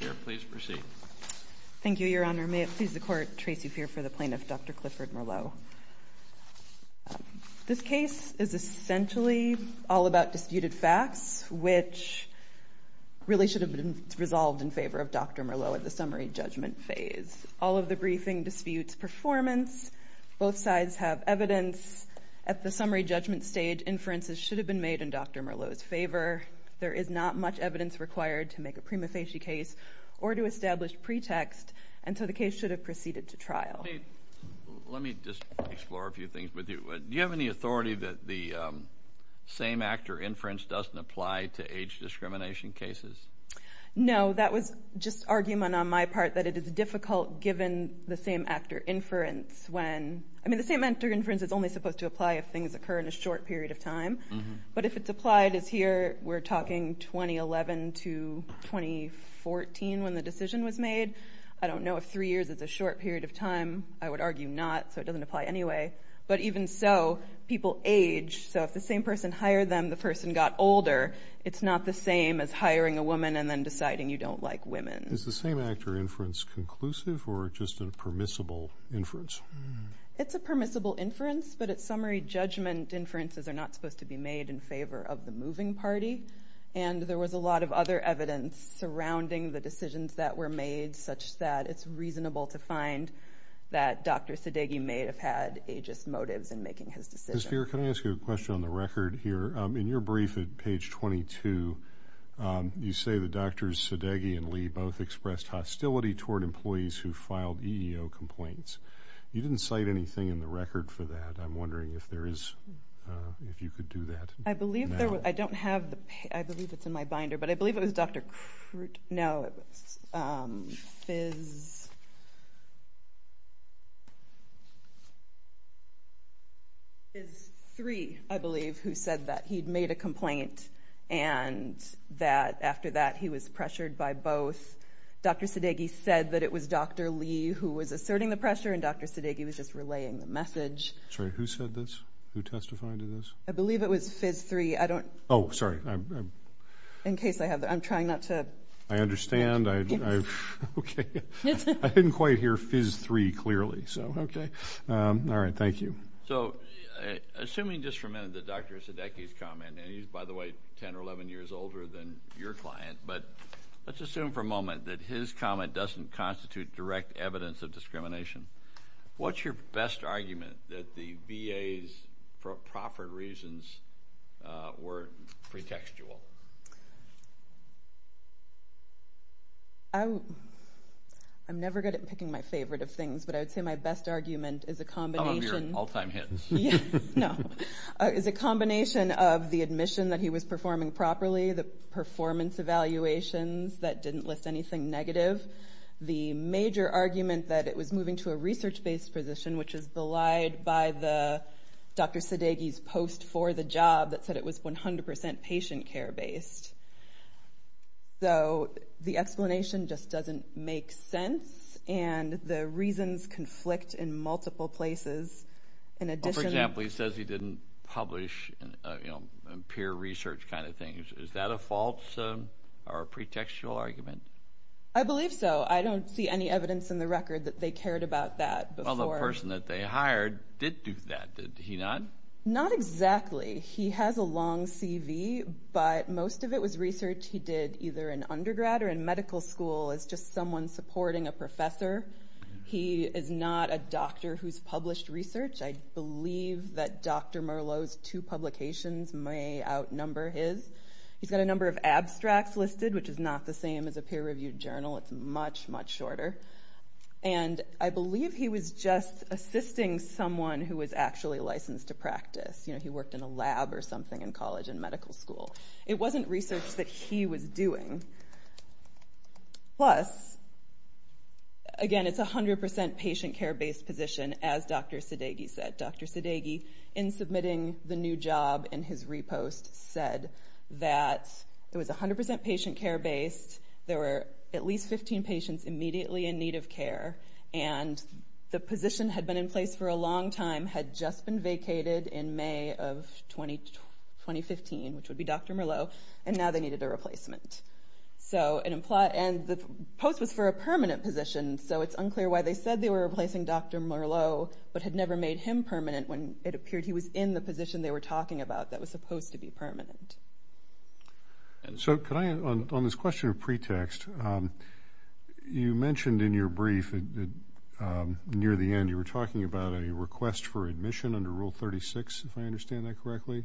May it please the Court, Tracey Feer for the Plaintiff, Dr. Clifford Merlo. This case is essentially all about disputed facts, which really should have been resolved in favor of Dr. Merlo at the summary judgment phase. All of the briefing disputes performance. Both sides have evidence. At the summary judgment stage, inferences should have been made in Dr. Merlo's favor. There is not much evidence required to make a prima facie case or to establish pretext. And so the case should have proceeded to trial. Let me just explore a few things with you. Do you have any authority that the same actor inference doesn't apply to age discrimination cases? No. That was just argument on my part that it is difficult given the same actor inference when I mean, the same actor inference is only supposed to apply if things occur in a short period of time. But if it's applied as here, we're talking 2011 to 2014 when the decision was made. I don't know if three years is a short period of time. I would argue not. So it doesn't apply anyway. But even so, people age. So if the same person hired them, the person got older. It's not the same as hiring a woman and then deciding you don't like women. Is the same actor inference conclusive or just a permissible inference? It's a permissible inference. But at summary, judgment inferences are not supposed to be made in favor of the moving party. And there was a lot of other evidence surrounding the decisions that were made such that it's reasonable to find that Dr. Sadeghi may have had ageist motives in making his decision. Ms. Spear, can I ask you a question on the record here? In your brief at page 22, you say that Drs. Sadeghi and Lee both expressed hostility toward employees who filed EEO complaints. You didn't cite anything in the record for that. I'm wondering if you could do that now. I believe it's in my binder. But I believe it was Dr. Fizz III, I believe, who said that he had made a complaint and that after that he was pressured by both. Dr. Sadeghi said that it was Dr. Lee who was asserting the pressure and Dr. Sadeghi was just relaying the message. Sorry, who said this? Who testified to this? I believe it was Fizz III. I don't – Oh, sorry. In case I have – I'm trying not to – I understand. Okay. I didn't quite hear Fizz III clearly. So, okay. All right. Thank you. So, assuming just for a minute that Dr. Sadeghi's comment – and he's, by the way, 10 or 11 years older than your client. But let's assume for a moment that his comment doesn't constitute direct evidence of discrimination. What's your best argument that the VA's proper reasons were pretextual? I'm never good at picking my favorite of things, but I would say my best argument is a combination – Some of your all-time hits. No. Is a combination of the admission that he was performing properly, the performance evaluations that didn't list anything negative, the major argument that it was moving to a research-based position, which is belied by Dr. Sadeghi's post for the job that said it was 100% patient care-based. So, the explanation just doesn't make sense, and the reasons conflict in multiple places. For example, he says he didn't publish a peer research kind of thing. Is that a false or a pretextual argument? I believe so. I don't see any evidence in the record that they cared about that before. Well, the person that they hired did do that, did he not? Not exactly. He has a long CV, but most of it was research he did either in undergrad or in medical school as just someone supporting a professor. He is not a doctor who's published research. I believe that Dr. Merlot's two publications may outnumber his. He's got a number of abstracts listed, which is not the same as a peer-reviewed journal. It's much, much shorter. And I believe he was just assisting someone who was actually licensed to practice. You know, he worked in a lab or something in college and medical school. It wasn't research that he was doing. Plus, again, it's a 100% patient care-based position, as Dr. Sadeghi said. Dr. Sadeghi, in submitting the new job in his repost, said that it was 100% patient care-based. There were at least 15 patients immediately in need of care. And the position had been in place for a long time, had just been vacated in May of 2015, which would be Dr. Merlot. And now they needed a replacement. And the post was for a permanent position, so it's unclear why they said they were replacing Dr. Merlot but had never made him permanent when it appeared he was in the position they were talking about that was supposed to be permanent. So could I, on this question of pretext, you mentioned in your brief near the end you were talking about a request for admission under Rule 36, if I understand that correctly,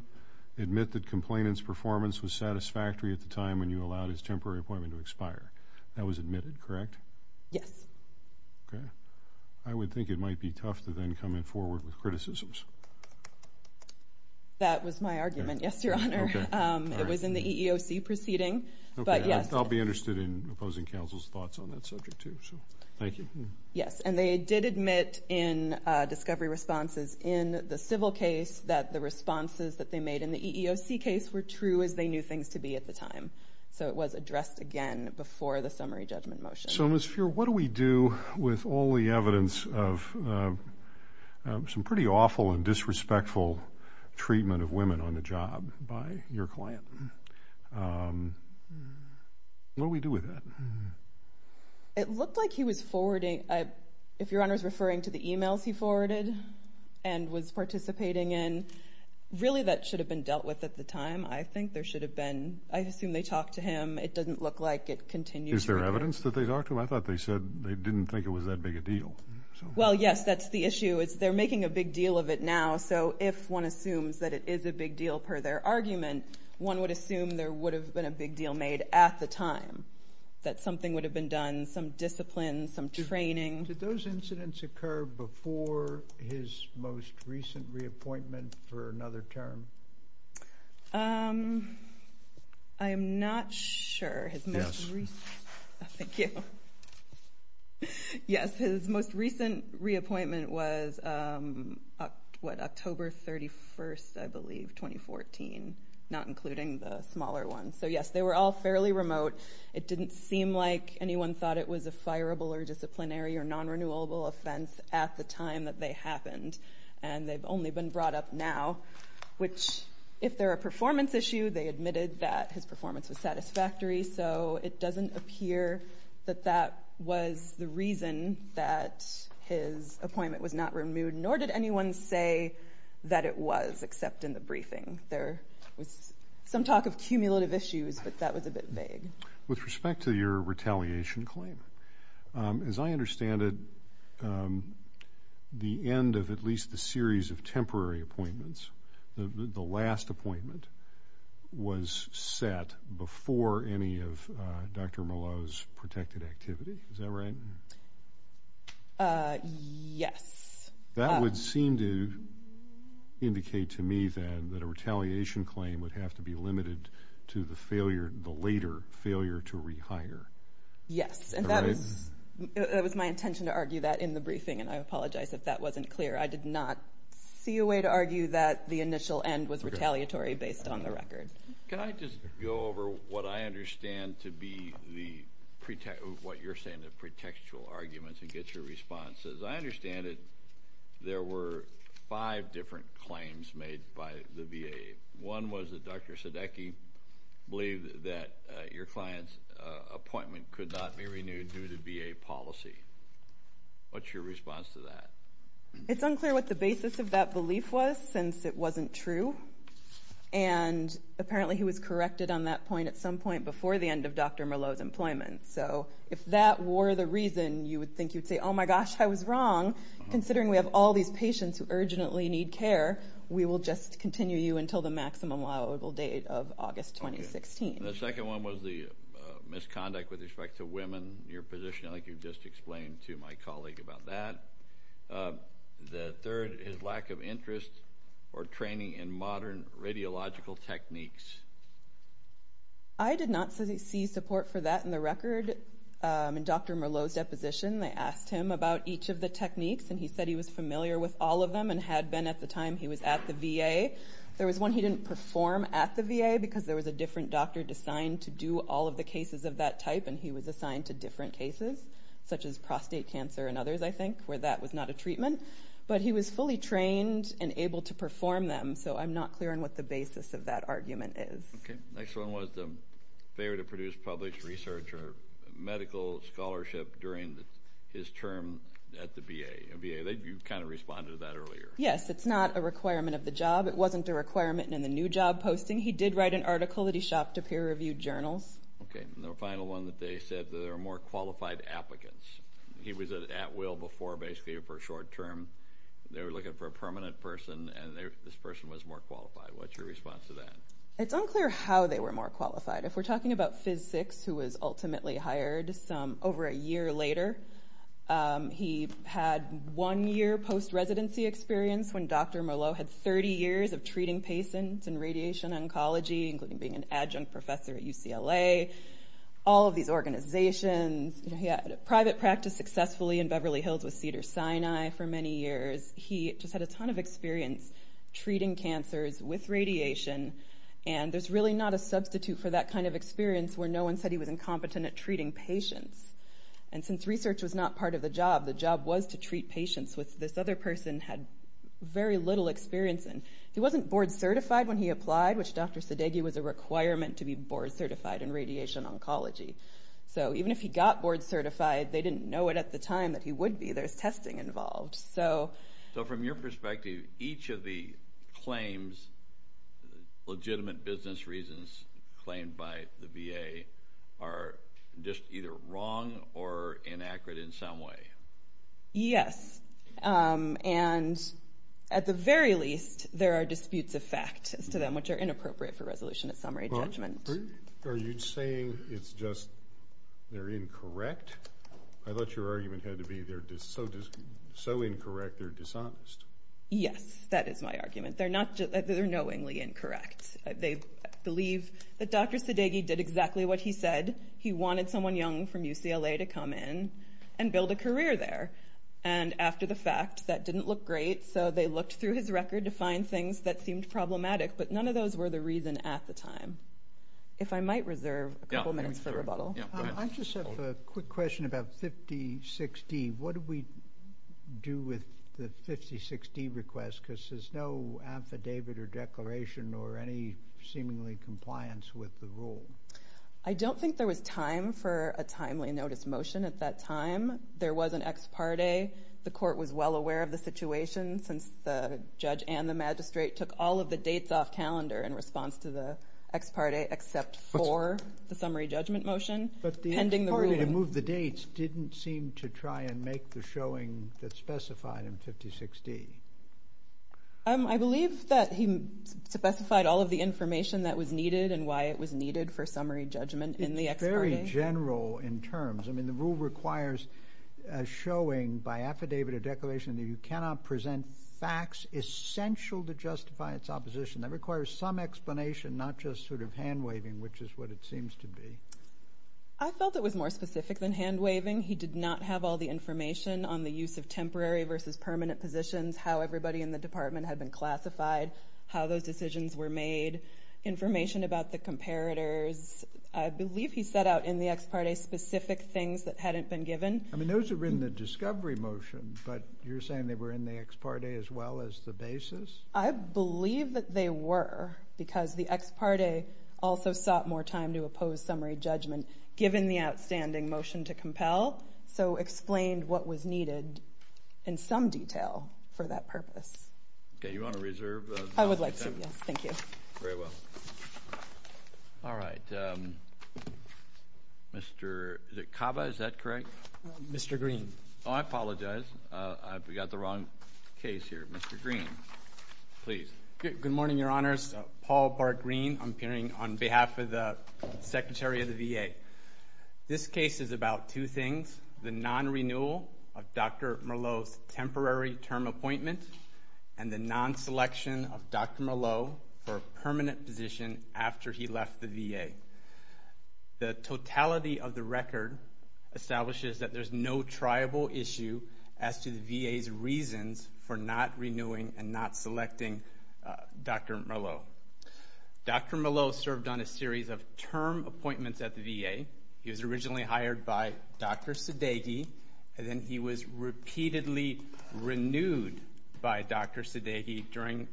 admit that complainant's performance was satisfactory at the time when you allowed his temporary appointment to expire. That was admitted, correct? Yes. Okay. I would think it might be tough to then come in forward with criticisms. That was my argument, yes, Your Honor. Okay. It was in the EEOC proceeding, but yes. Okay. I'll be interested in opposing counsel's thoughts on that subject, too, so thank you. Yes, and they did admit in discovery responses in the civil case that the responses that they made in the EEOC case were true as they knew things to be at the time. So it was addressed again before the summary judgment motion. So, Ms. Feuer, what do we do with all the evidence of some pretty awful and disrespectful treatment of women on the job by your client? What do we do with that? It looked like he was forwarding. If Your Honor is referring to the e-mails he forwarded and was participating in, really that should have been dealt with at the time. I think there should have been. I assume they talked to him. It doesn't look like it continues. Is there evidence that they talked to him? I thought they said they didn't think it was that big a deal. Well, yes, that's the issue is they're making a big deal of it now, so if one assumes that it is a big deal per their argument, one would assume there would have been a big deal made at the time that something would have been done, some discipline, some training. Did those incidents occur before his most recent reappointment for another term? I am not sure. Yes. Thank you. Yes, his most recent reappointment was, what, October 31st, I believe, 2014, not including the smaller ones. So, yes, they were all fairly remote. It didn't seem like anyone thought it was a fireable or disciplinary or non-renewable offense at the time that they happened, and they've only been brought up now, which if they're a performance issue, they admitted that his performance was satisfactory, so it doesn't appear that that was the reason that his appointment was not removed, nor did anyone say that it was except in the briefing. There was some talk of cumulative issues, but that was a bit vague. With respect to your retaliation claim, as I understand it, the end of at least the series of temporary appointments, the last appointment was set before any of Dr. Malone's protected activity. Is that right? Yes. That would seem to indicate to me, then, that a retaliation claim would have to be limited to the later failure to rehire. Yes, and that was my intention to argue that in the briefing, and I apologize if that wasn't clear. I did not see a way to argue that the initial end was retaliatory based on the record. Can I just go over what I understand to be what you're saying, the pretextual arguments, and get your response? As I understand it, there were five different claims made by the VA. One was that Dr. Sudeiki believed that your client's appointment could not be renewed due to VA policy. What's your response to that? It's unclear what the basis of that belief was, since it wasn't true, and apparently he was corrected on that point at some point before the end of Dr. Malone's employment. So if that were the reason you would think you'd say, oh, my gosh, I was wrong, considering we have all these patients who urgently need care, we will just continue you until the maximum allowable date of August 2016. The second one was the misconduct with respect to women. Your position, I think you've just explained to my colleague about that. The third is lack of interest or training in modern radiological techniques. I did not see support for that in the record. In Dr. Malone's deposition, they asked him about each of the techniques, and he said he was familiar with all of them and had been at the time he was at the VA. There was one he didn't perform at the VA because there was a different doctor designed to do all of the cases of that type, and he was assigned to different cases, such as prostate cancer and others, I think, where that was not a treatment. But he was fully trained and able to perform them, so I'm not clear on what the basis of that argument is. Okay. The next one was the failure to produce published research or medical scholarship during his term at the VA. You kind of responded to that earlier. Yes, it's not a requirement of the job. It wasn't a requirement in the new job posting. He did write an article that he shopped to peer-reviewed journals. Okay. And the final one that they said that there were more qualified applicants. He was at will before basically for short term. They were looking for a permanent person, and this person was more qualified. What's your response to that? It's unclear how they were more qualified. If we're talking about Phys VI, who was ultimately hired over a year later, he had one year post-residency experience when Dr. Malone had 30 years of treating patients in radiation oncology, including being an adjunct professor at UCLA. All of these organizations. He had private practice successfully in Beverly Hills with Cedars-Sinai for many years. He just had a ton of experience treating cancers with radiation, and there's really not a substitute for that kind of experience where no one said he was incompetent at treating patients. And since research was not part of the job, the job was to treat patients which this other person had very little experience in. He wasn't board certified when he applied, which Dr. Sadeghi was a requirement to be board certified in radiation oncology. So even if he got board certified, they didn't know it at the time that he would be. There's testing involved. So from your perspective, each of the claims, legitimate business reasons claimed by the VA, are just either wrong or inaccurate in some way. Yes. And at the very least, there are disputes of fact as to them, which are inappropriate for resolution of summary judgment. Are you saying it's just they're incorrect? I thought your argument had to be they're so incorrect they're dishonest. Yes, that is my argument. They're knowingly incorrect. They believe that Dr. Sadeghi did exactly what he said. He wanted someone young from UCLA to come in and build a career there. And after the fact, that didn't look great, so they looked through his record to find things that seemed problematic, but none of those were the reason at the time. If I might reserve a couple minutes for rebuttal. I just have a quick question about 56D. What do we do with the 56D request? Because there's no affidavit or declaration or any seemingly compliance with the rule. I don't think there was time for a timely notice motion at that time. There was an ex parte. The court was well aware of the situation since the judge and the magistrate took all of the dates off calendar in response to the ex parte except for the summary judgment motion pending the ruling. But the ex parte to move the dates didn't seem to try and make the showing that specified in 56D. I believe that he specified all of the information that was needed and why it was needed for summary judgment in the ex parte. It's very general in terms. I mean, the rule requires a showing by affidavit or declaration that you cannot present facts essential to justify its opposition. That requires some explanation, not just sort of hand-waving, which is what it seems to be. I felt it was more specific than hand-waving. He did not have all the information on the use of temporary versus permanent positions, how everybody in the department had been classified, how those decisions were made, information about the comparators. I believe he set out in the ex parte specific things that hadn't been given. I mean, those were in the discovery motion, but you're saying they were in the ex parte as well as the basis? I believe that they were because the ex parte also sought more time to oppose summary judgment given the outstanding motion to compel, so explained what was needed in some detail for that purpose. Okay. You want to reserve? I would like to, yes. Thank you. Very well. All right. Mr. Cava, is that correct? Mr. Green. Oh, I apologize. I've got the wrong case here. Mr. Green, please. Good morning, Your Honors. Paul Bar-Green. I'm appearing on behalf of the Secretary of the VA. This case is about two things, the non-renewal of Dr. Merleau's temporary term appointment and the non-selection of Dr. Merleau for a permanent position after he left the VA. The totality of the record establishes that there's no triable issue as to the VA's reasons for not renewing and not selecting Dr. Merleau. Dr. Merleau served on a series of term appointments at the VA. He was originally hired by Dr. Sadeghi, and then he was repeatedly renewed by Dr. Sadeghi during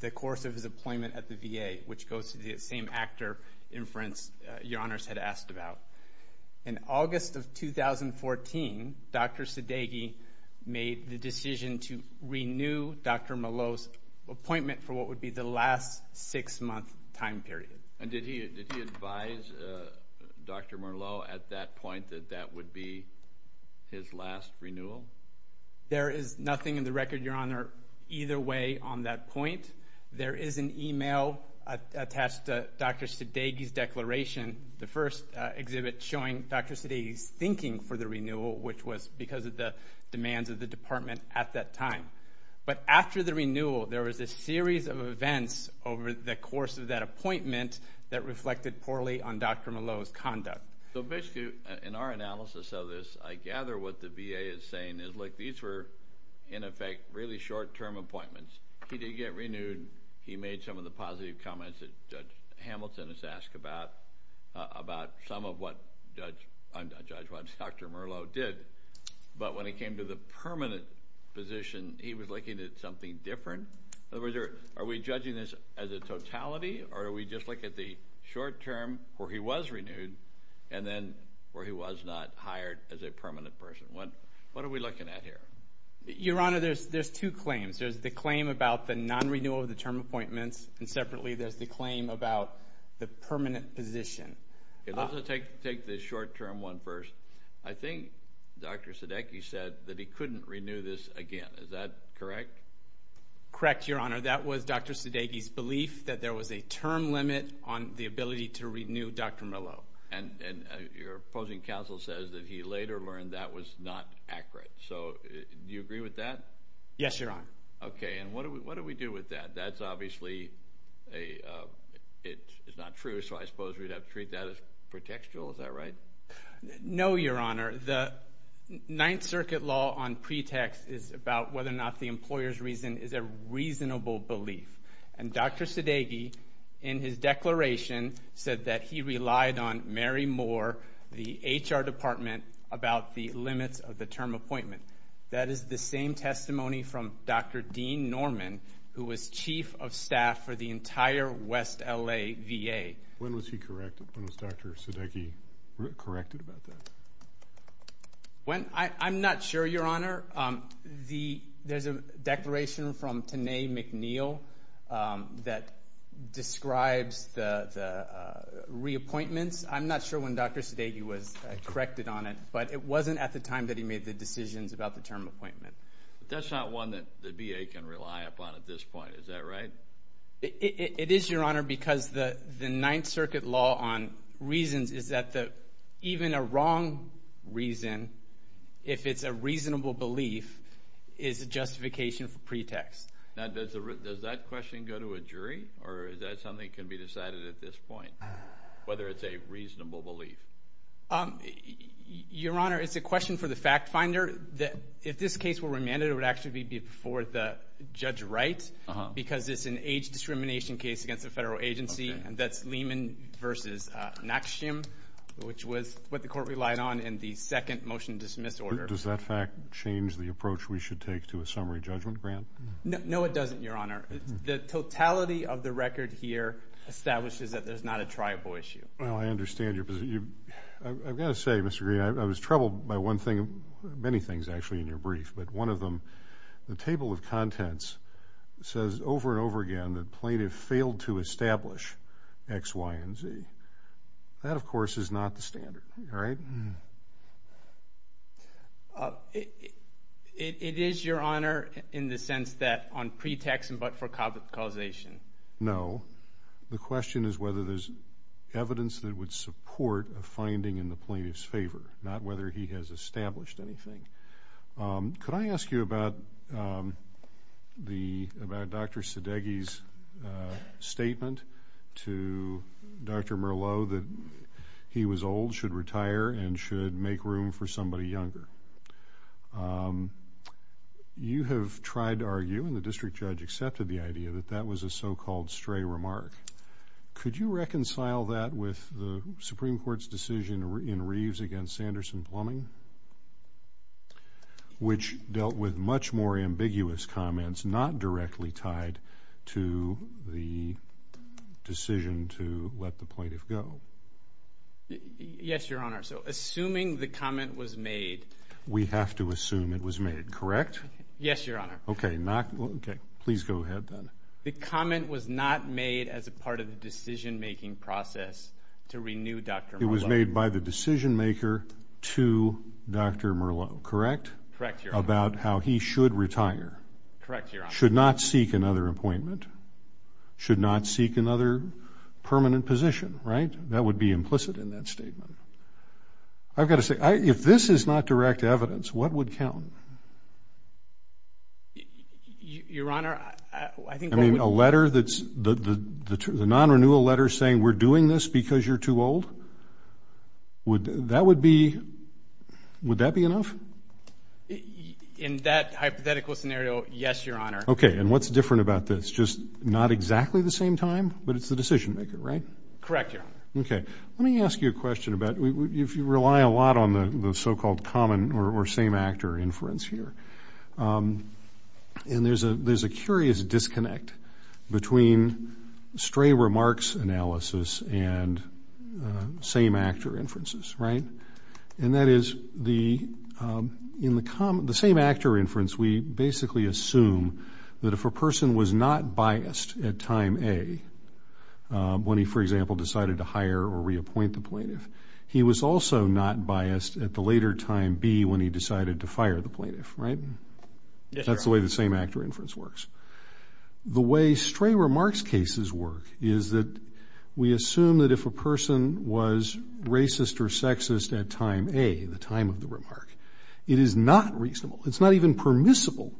the course of his appointment at the VA, which goes to the same actor inference Your Honors had asked about. In August of 2014, Dr. Sadeghi made the decision to renew Dr. Merleau's appointment for what would be the last six-month time period. And did he advise Dr. Merleau at that point that that would be his last renewal? There is nothing in the record, Your Honor, either way on that point. There is an email attached to Dr. Sadeghi's declaration, the first exhibit showing Dr. Sadeghi's thinking for the renewal, which was because of the demands of the department at that time. But after the renewal, there was a series of events over the course of that appointment that reflected poorly on Dr. Merleau's conduct. So basically, in our analysis of this, I gather what the VA is saying is, look, these were, in effect, really short-term appointments. He did get renewed. He made some of the positive comments that Judge Hamilton has asked about, about some of what Judge Merleau did. But when it came to the permanent position, he was looking at something different. In other words, are we judging this as a totality, or are we just looking at the short-term where he was renewed and then where he was not hired as a permanent person? What are we looking at here? Your Honor, there's two claims. There's the claim about the non-renewal of the term appointments, and separately there's the claim about the permanent position. Let's take the short-term one first. I think Dr. Sadeghi said that he couldn't renew this again. Is that correct? Correct, Your Honor. That was Dr. Sadeghi's belief that there was a term limit on the ability to renew Dr. Merleau. And your opposing counsel says that he later learned that was not accurate. So do you agree with that? Yes, Your Honor. Okay. And what do we do with that? That's obviously not true, so I suppose we'd have to treat that as pretextual. Is that right? No, Your Honor. Your Honor, the Ninth Circuit law on pretext is about whether or not the employer's reason is a reasonable belief. And Dr. Sadeghi, in his declaration, said that he relied on Mary Moore, the HR department, about the limits of the term appointment. That is the same testimony from Dr. Dean Norman, who was chief of staff for the entire West L.A. VA. When was he corrected? When was Dr. Sadeghi corrected about that? I'm not sure, Your Honor. There's a declaration from Tenay McNeil that describes the reappointments. I'm not sure when Dr. Sadeghi was corrected on it, but it wasn't at the time that he made the decisions about the term appointment. But that's not one that the VA can rely upon at this point. Is that right? It is, Your Honor, because the Ninth Circuit law on reasons is that even a wrong reason, if it's a reasonable belief, is a justification for pretext. Now, does that question go to a jury, or is that something that can be decided at this point, whether it's a reasonable belief? Your Honor, it's a question for the fact finder. If this case were remanded, it would actually be before the judge of rights because it's an age discrimination case against a federal agency, and that's Lehman v. Nakshim, which was what the court relied on in the second motion to dismiss order. Does that fact change the approach we should take to a summary judgment grant? No, it doesn't, Your Honor. The totality of the record here establishes that there's not a tribal issue. Well, I understand your position. I've got to say, Mr. Green, I was troubled by one thing, many things, actually, in your brief. But one of them, the table of contents says over and over again that plaintiff failed to establish X, Y, and Z. That, of course, is not the standard, all right? It is, Your Honor, in the sense that on pretext but for causation. No. The question is whether there's evidence that would support a finding in the plaintiff's favor, not whether he has established anything. Could I ask you about Dr. Sedeghi's statement to Dr. Merlot that he was old, should retire, and should make room for somebody younger? You have tried to argue, and the district judge accepted the idea, that that was a so-called stray remark. Could you reconcile that with the Supreme Court's decision in Reeves against Sanderson Plumbing, which dealt with much more ambiguous comments not directly tied to the decision to let the plaintiff go? Yes, Your Honor. So assuming the comment was made. We have to assume it was made, correct? Yes, Your Honor. Okay. Please go ahead then. The comment was not made as a part of the decision-making process to renew Dr. Merlot. It was made by the decision-maker to Dr. Merlot, correct? Correct, Your Honor. About how he should retire. Correct, Your Honor. Should not seek another appointment, should not seek another permanent position, right? That would be implicit in that statement. I've got to say, if this is not direct evidence, what would count? Your Honor, I think what would... I mean, a letter that's, the non-renewal letter saying we're doing this because you're too old? That would be, would that be enough? In that hypothetical scenario, yes, Your Honor. Okay. And what's different about this? Just not exactly the same time, but it's the decision-maker, right? Correct, Your Honor. Okay. Let me ask you a question about, if you rely a lot on the so-called common or same-actor inference here, and there's a curious disconnect between stray remarks analysis and same-actor inferences, right? And that is, in the same-actor inference, we basically assume that if a person was not biased at time A, when he, for example, decided to hire or reappoint the plaintiff, he was also not biased at the later time B when he decided to fire the plaintiff, right? That's the way the same-actor inference works. The way stray remarks cases work is that we assume that if a person was racist or sexist at time A, the time of the remark, it is not reasonable, it's not even permissible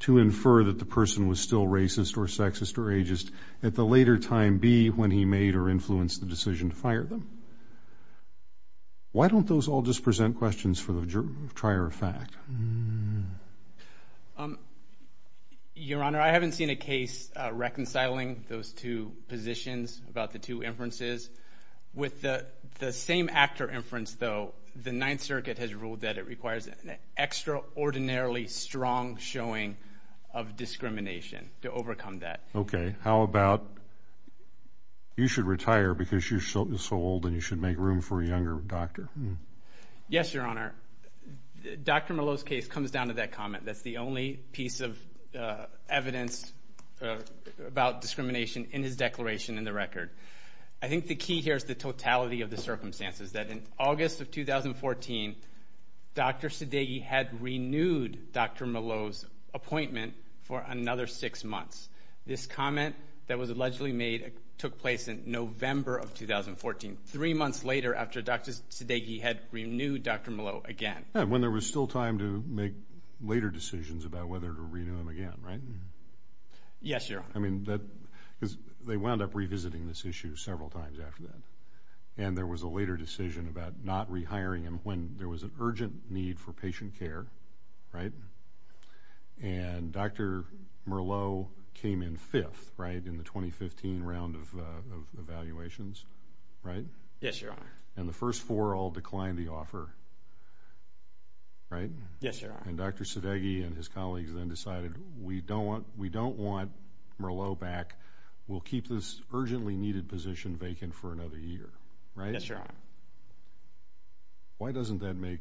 to infer that the person was still racist or sexist or ageist at the later time B when he made or influenced the decision to fire them. Why don't those all just present questions for the trier of fact? Your Honor, I haven't seen a case reconciling those two positions about the two inferences. With the same-actor inference, though, the Ninth Circuit has ruled that it requires an extraordinarily strong showing of discrimination to overcome that. Okay. How about you should retire because you're so old and you should make room for a younger doctor? Yes, Your Honor. Dr. Mello's case comes down to that comment. That's the only piece of evidence about discrimination in his declaration in the record. I think the key here is the totality of the circumstances, that in August of 2014, Dr. Sudeiky had renewed Dr. Mello's appointment for another six months. This comment that was allegedly made took place in November of 2014, three months later after Dr. Sudeiky had renewed Dr. Mello again. When there was still time to make later decisions about whether to renew him again, right? Yes, Your Honor. Because they wound up revisiting this issue several times after that, and there was a later decision about not rehiring him when there was an urgent need for patient care, right? And Dr. Mello came in fifth, right, in the 2015 round of evaluations, right? Yes, Your Honor. And the first four all declined the offer, right? Yes, Your Honor. And Dr. Sudeiky and his colleagues then decided we don't want Mello back. We'll keep this urgently needed position vacant for another year, right? Yes, Your Honor. Why doesn't that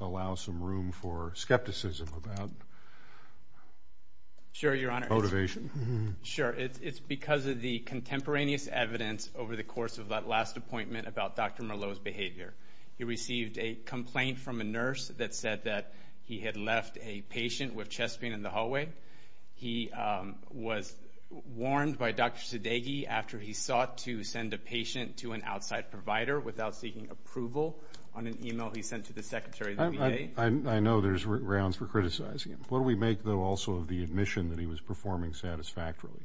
allow some room for skepticism about motivation? Sure, Your Honor. It's because of the contemporaneous evidence over the course of that last appointment about Dr. Mello's behavior. He received a complaint from a nurse that said that he had left a patient with chest pain in the hallway. He was warned by Dr. Sudeiky after he sought to send a patient to an outside provider without seeking approval on an e-mail he sent to the Secretary of the VA. I know there's grounds for criticizing him. What do we make, though, also of the admission that he was performing satisfactorily?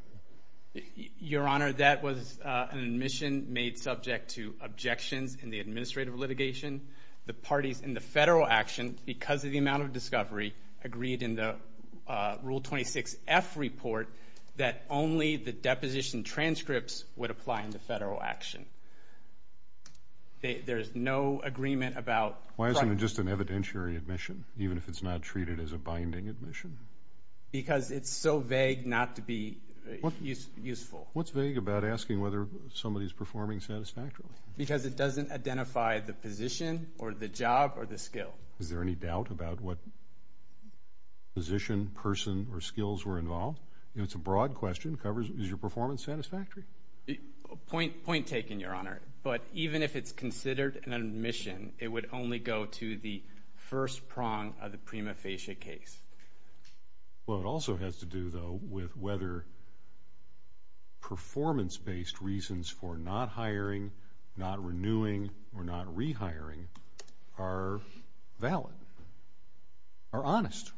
Your Honor, that was an admission made subject to objections in the administrative litigation. The parties in the federal action, because of the amount of discovery, agreed in the Rule 26-F report that only the deposition transcripts would apply in the federal action. There is no agreement about... Why isn't it just an evidentiary admission, even if it's not treated as a binding admission? Because it's so vague not to be useful. What's vague about asking whether somebody's performing satisfactorily? Because it doesn't identify the position or the job or the skill. Is there any doubt about what position, person, or skills were involved? It's a broad question. Is your performance satisfactory? Point taken, Your Honor. But even if it's considered an admission, it would only go to the first prong of the prima facie case. Well, it also has to do, though, with whether performance-based reasons for not hiring, not renewing, or not rehiring are valid, are honest.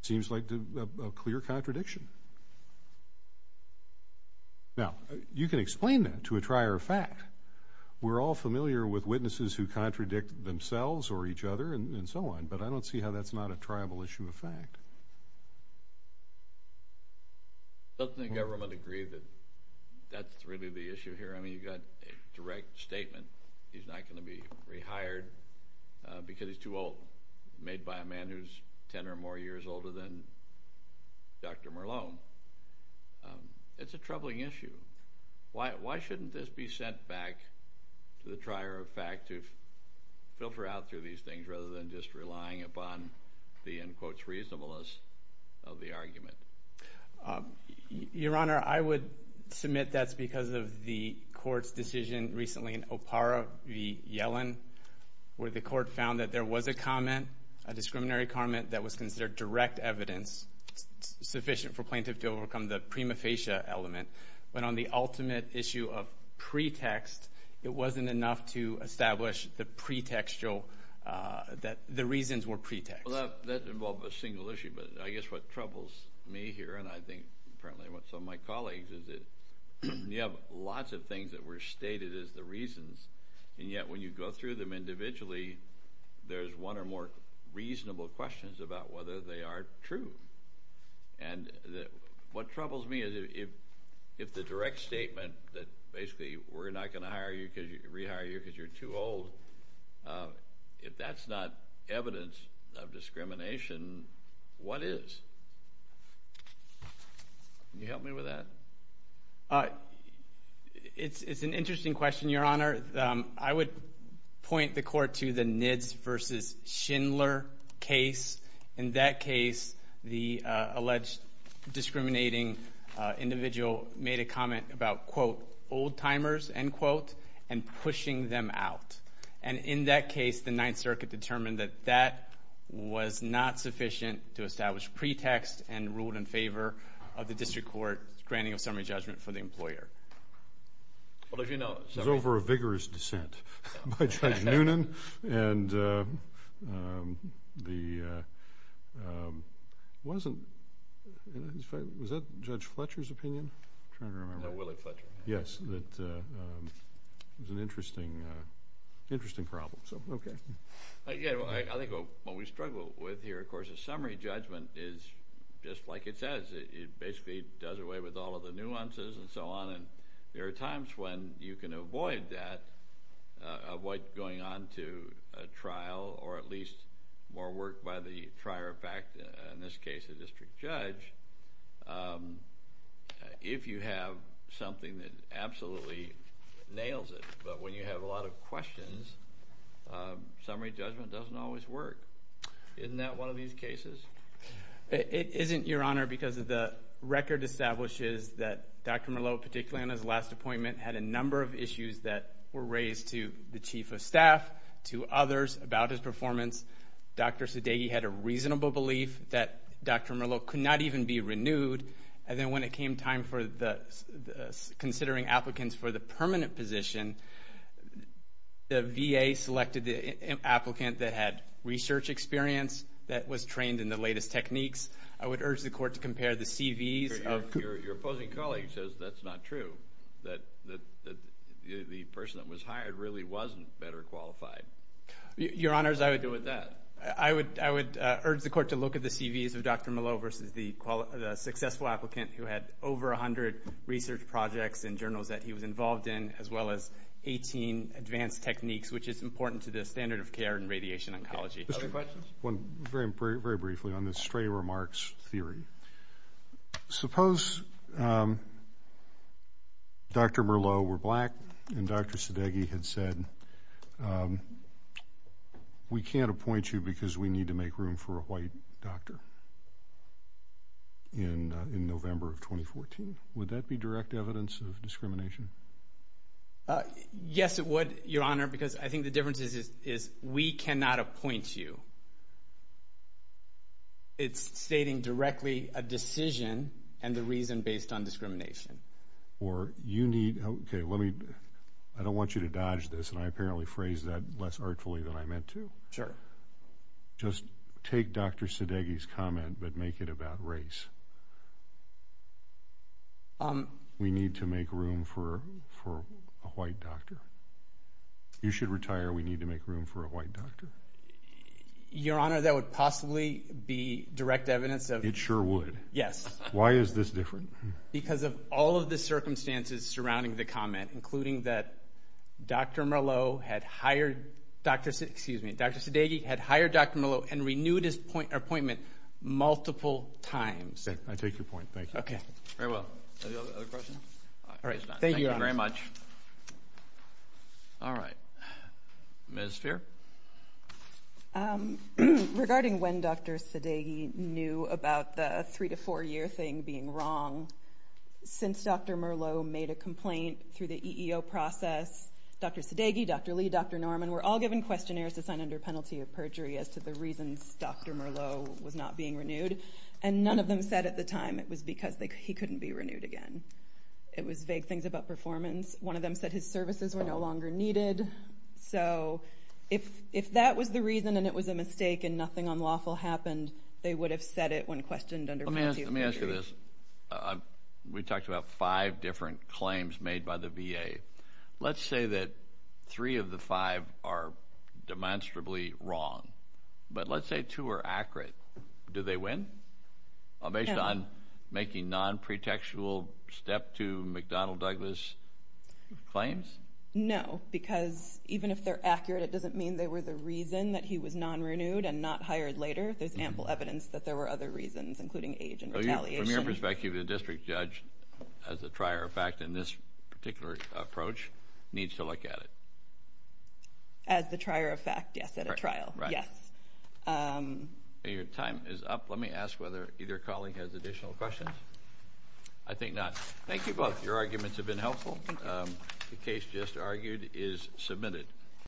It seems like a clear contradiction. Now, you can explain that to a trier of fact. We're all familiar with witnesses who contradict themselves or each other and so on, but I don't see how that's not a triable issue of fact. Doesn't the government agree that that's really the issue here? I mean, you've got a direct statement. He's not going to be rehired because he's too old, made by a man who's ten or more years older than Dr. Merlone. It's a troubling issue. Why shouldn't this be sent back to the trier of fact to filter out through these things rather than just relying upon the, in quotes, reasonableness of the argument? Your Honor, I would submit that's because of the Court's decision recently in Opara v. Yellen where the Court found that there was a comment, a discriminatory comment, that was considered direct evidence sufficient for plaintiff to overcome the prima facie element. But on the ultimate issue of pretext, it wasn't enough to establish the pretextual, that the reasons were pretext. Well, that involved a single issue, but I guess what troubles me here, and I think apparently some of my colleagues, is that you have lots of things that were stated as the reasons, and yet when you go through them individually, there's one or more reasonable questions about whether they are true. And what troubles me is if the direct statement that basically we're not going to rehire you because you're too old, if that's not evidence of discrimination, what is? Can you help me with that? It's an interesting question, Your Honor. I would point the Court to the Nitz v. Schindler case. In that case, the alleged discriminating individual made a comment about, quote, old timers, end quote, and pushing them out. And in that case, the Ninth Circuit determined that that was not sufficient to establish pretext and ruled in favor of the District Court's granting of summary judgment for the employer. As you know, it was over a vigorous dissent by Judge Noonan, and it wasn't, was that Judge Fletcher's opinion? I'm trying to remember. No, Willard Fletcher. Yes. It was an interesting problem. I think what we struggle with here, of course, is summary judgment is just like it says. It basically does away with all of the nuances and so on, and there are times when you can avoid that, avoid going on to a trial or at least more work by the trier of fact, in this case a district judge, if you have something that absolutely nails it. But when you have a lot of questions, summary judgment doesn't always work. Isn't that one of these cases? It isn't, Your Honor, because the record establishes that Dr. Merlot, particularly on his last appointment, had a number of issues that were raised to the Chief of Staff, to others about his performance. Dr. Sudeiky had a reasonable belief that Dr. Merlot could not even be renewed. And then when it came time for considering applicants for the permanent position, the VA selected the applicant that had research experience, that was trained in the latest techniques. I would urge the Court to compare the CVs. Your opposing colleague says that's not true, that the person that was hired really wasn't better qualified. Your Honors, I would urge the Court to look at the CVs of Dr. Merlot versus the successful applicant who had over 100 research projects and journals that he was involved in, as well as 18 advanced techniques, which is important to the standard of care in radiation oncology. Other questions? Very briefly on this stray remarks theory. Suppose Dr. Merlot were black and Dr. Sudeiky had said, we can't appoint you because we need to make room for a white doctor in November of 2014. Would that be direct evidence of discrimination? Yes, it would, Your Honor, because I think the difference is we cannot appoint you. It's stating directly a decision and the reason based on discrimination. Okay, I don't want you to dodge this, and I apparently phrased that less artfully than I meant to. Sure. Just take Dr. Sudeiky's comment but make it about race. We need to make room for a white doctor. You should retire, we need to make room for a white doctor. Your Honor, that would possibly be direct evidence of It sure would. Yes. Why is this different? Because of all of the circumstances surrounding the comment, including that Dr. Merlot had hired Dr. Sudeiky had hired Dr. Merlot and renewed his appointment multiple times. I take your point. Thank you. Very well. Any other questions? All right. Thank you, Your Honor. Thank you very much. All right. Ms. Speer. Regarding when Dr. Sudeiky knew about the three to four year thing being wrong, since Dr. Merlot made a complaint through the EEO process, Dr. Sudeiky, Dr. Lee, Dr. Norman were all given questionnaires to sign under penalty of perjury as to the reasons Dr. Merlot was not being renewed, and none of them said at the time it was because he couldn't be renewed again. It was vague things about performance. One of them said his services were no longer needed. So if that was the reason and it was a mistake and nothing unlawful happened, they would have said it when questioned under penalty of perjury. Let me ask you this. We talked about five different claims made by the VA. Let's say that three of the five are demonstrably wrong, but let's say two are accurate. Do they win? No. Based on making non-pretextual step to McDonnell Douglas claims? No, because even if they're accurate, it doesn't mean they were the reason that he was non-renewed and not hired later. There's ample evidence that there were other reasons, including age and retaliation. From your perspective, the district judge, as a trier of fact in this particular approach, needs to look at it. As the trier of fact, yes, at a trial, yes. Your time is up. Let me ask whether either colleague has additional questions. I think not. Thank you both. Your arguments have been helpful. The case just argued is submitted.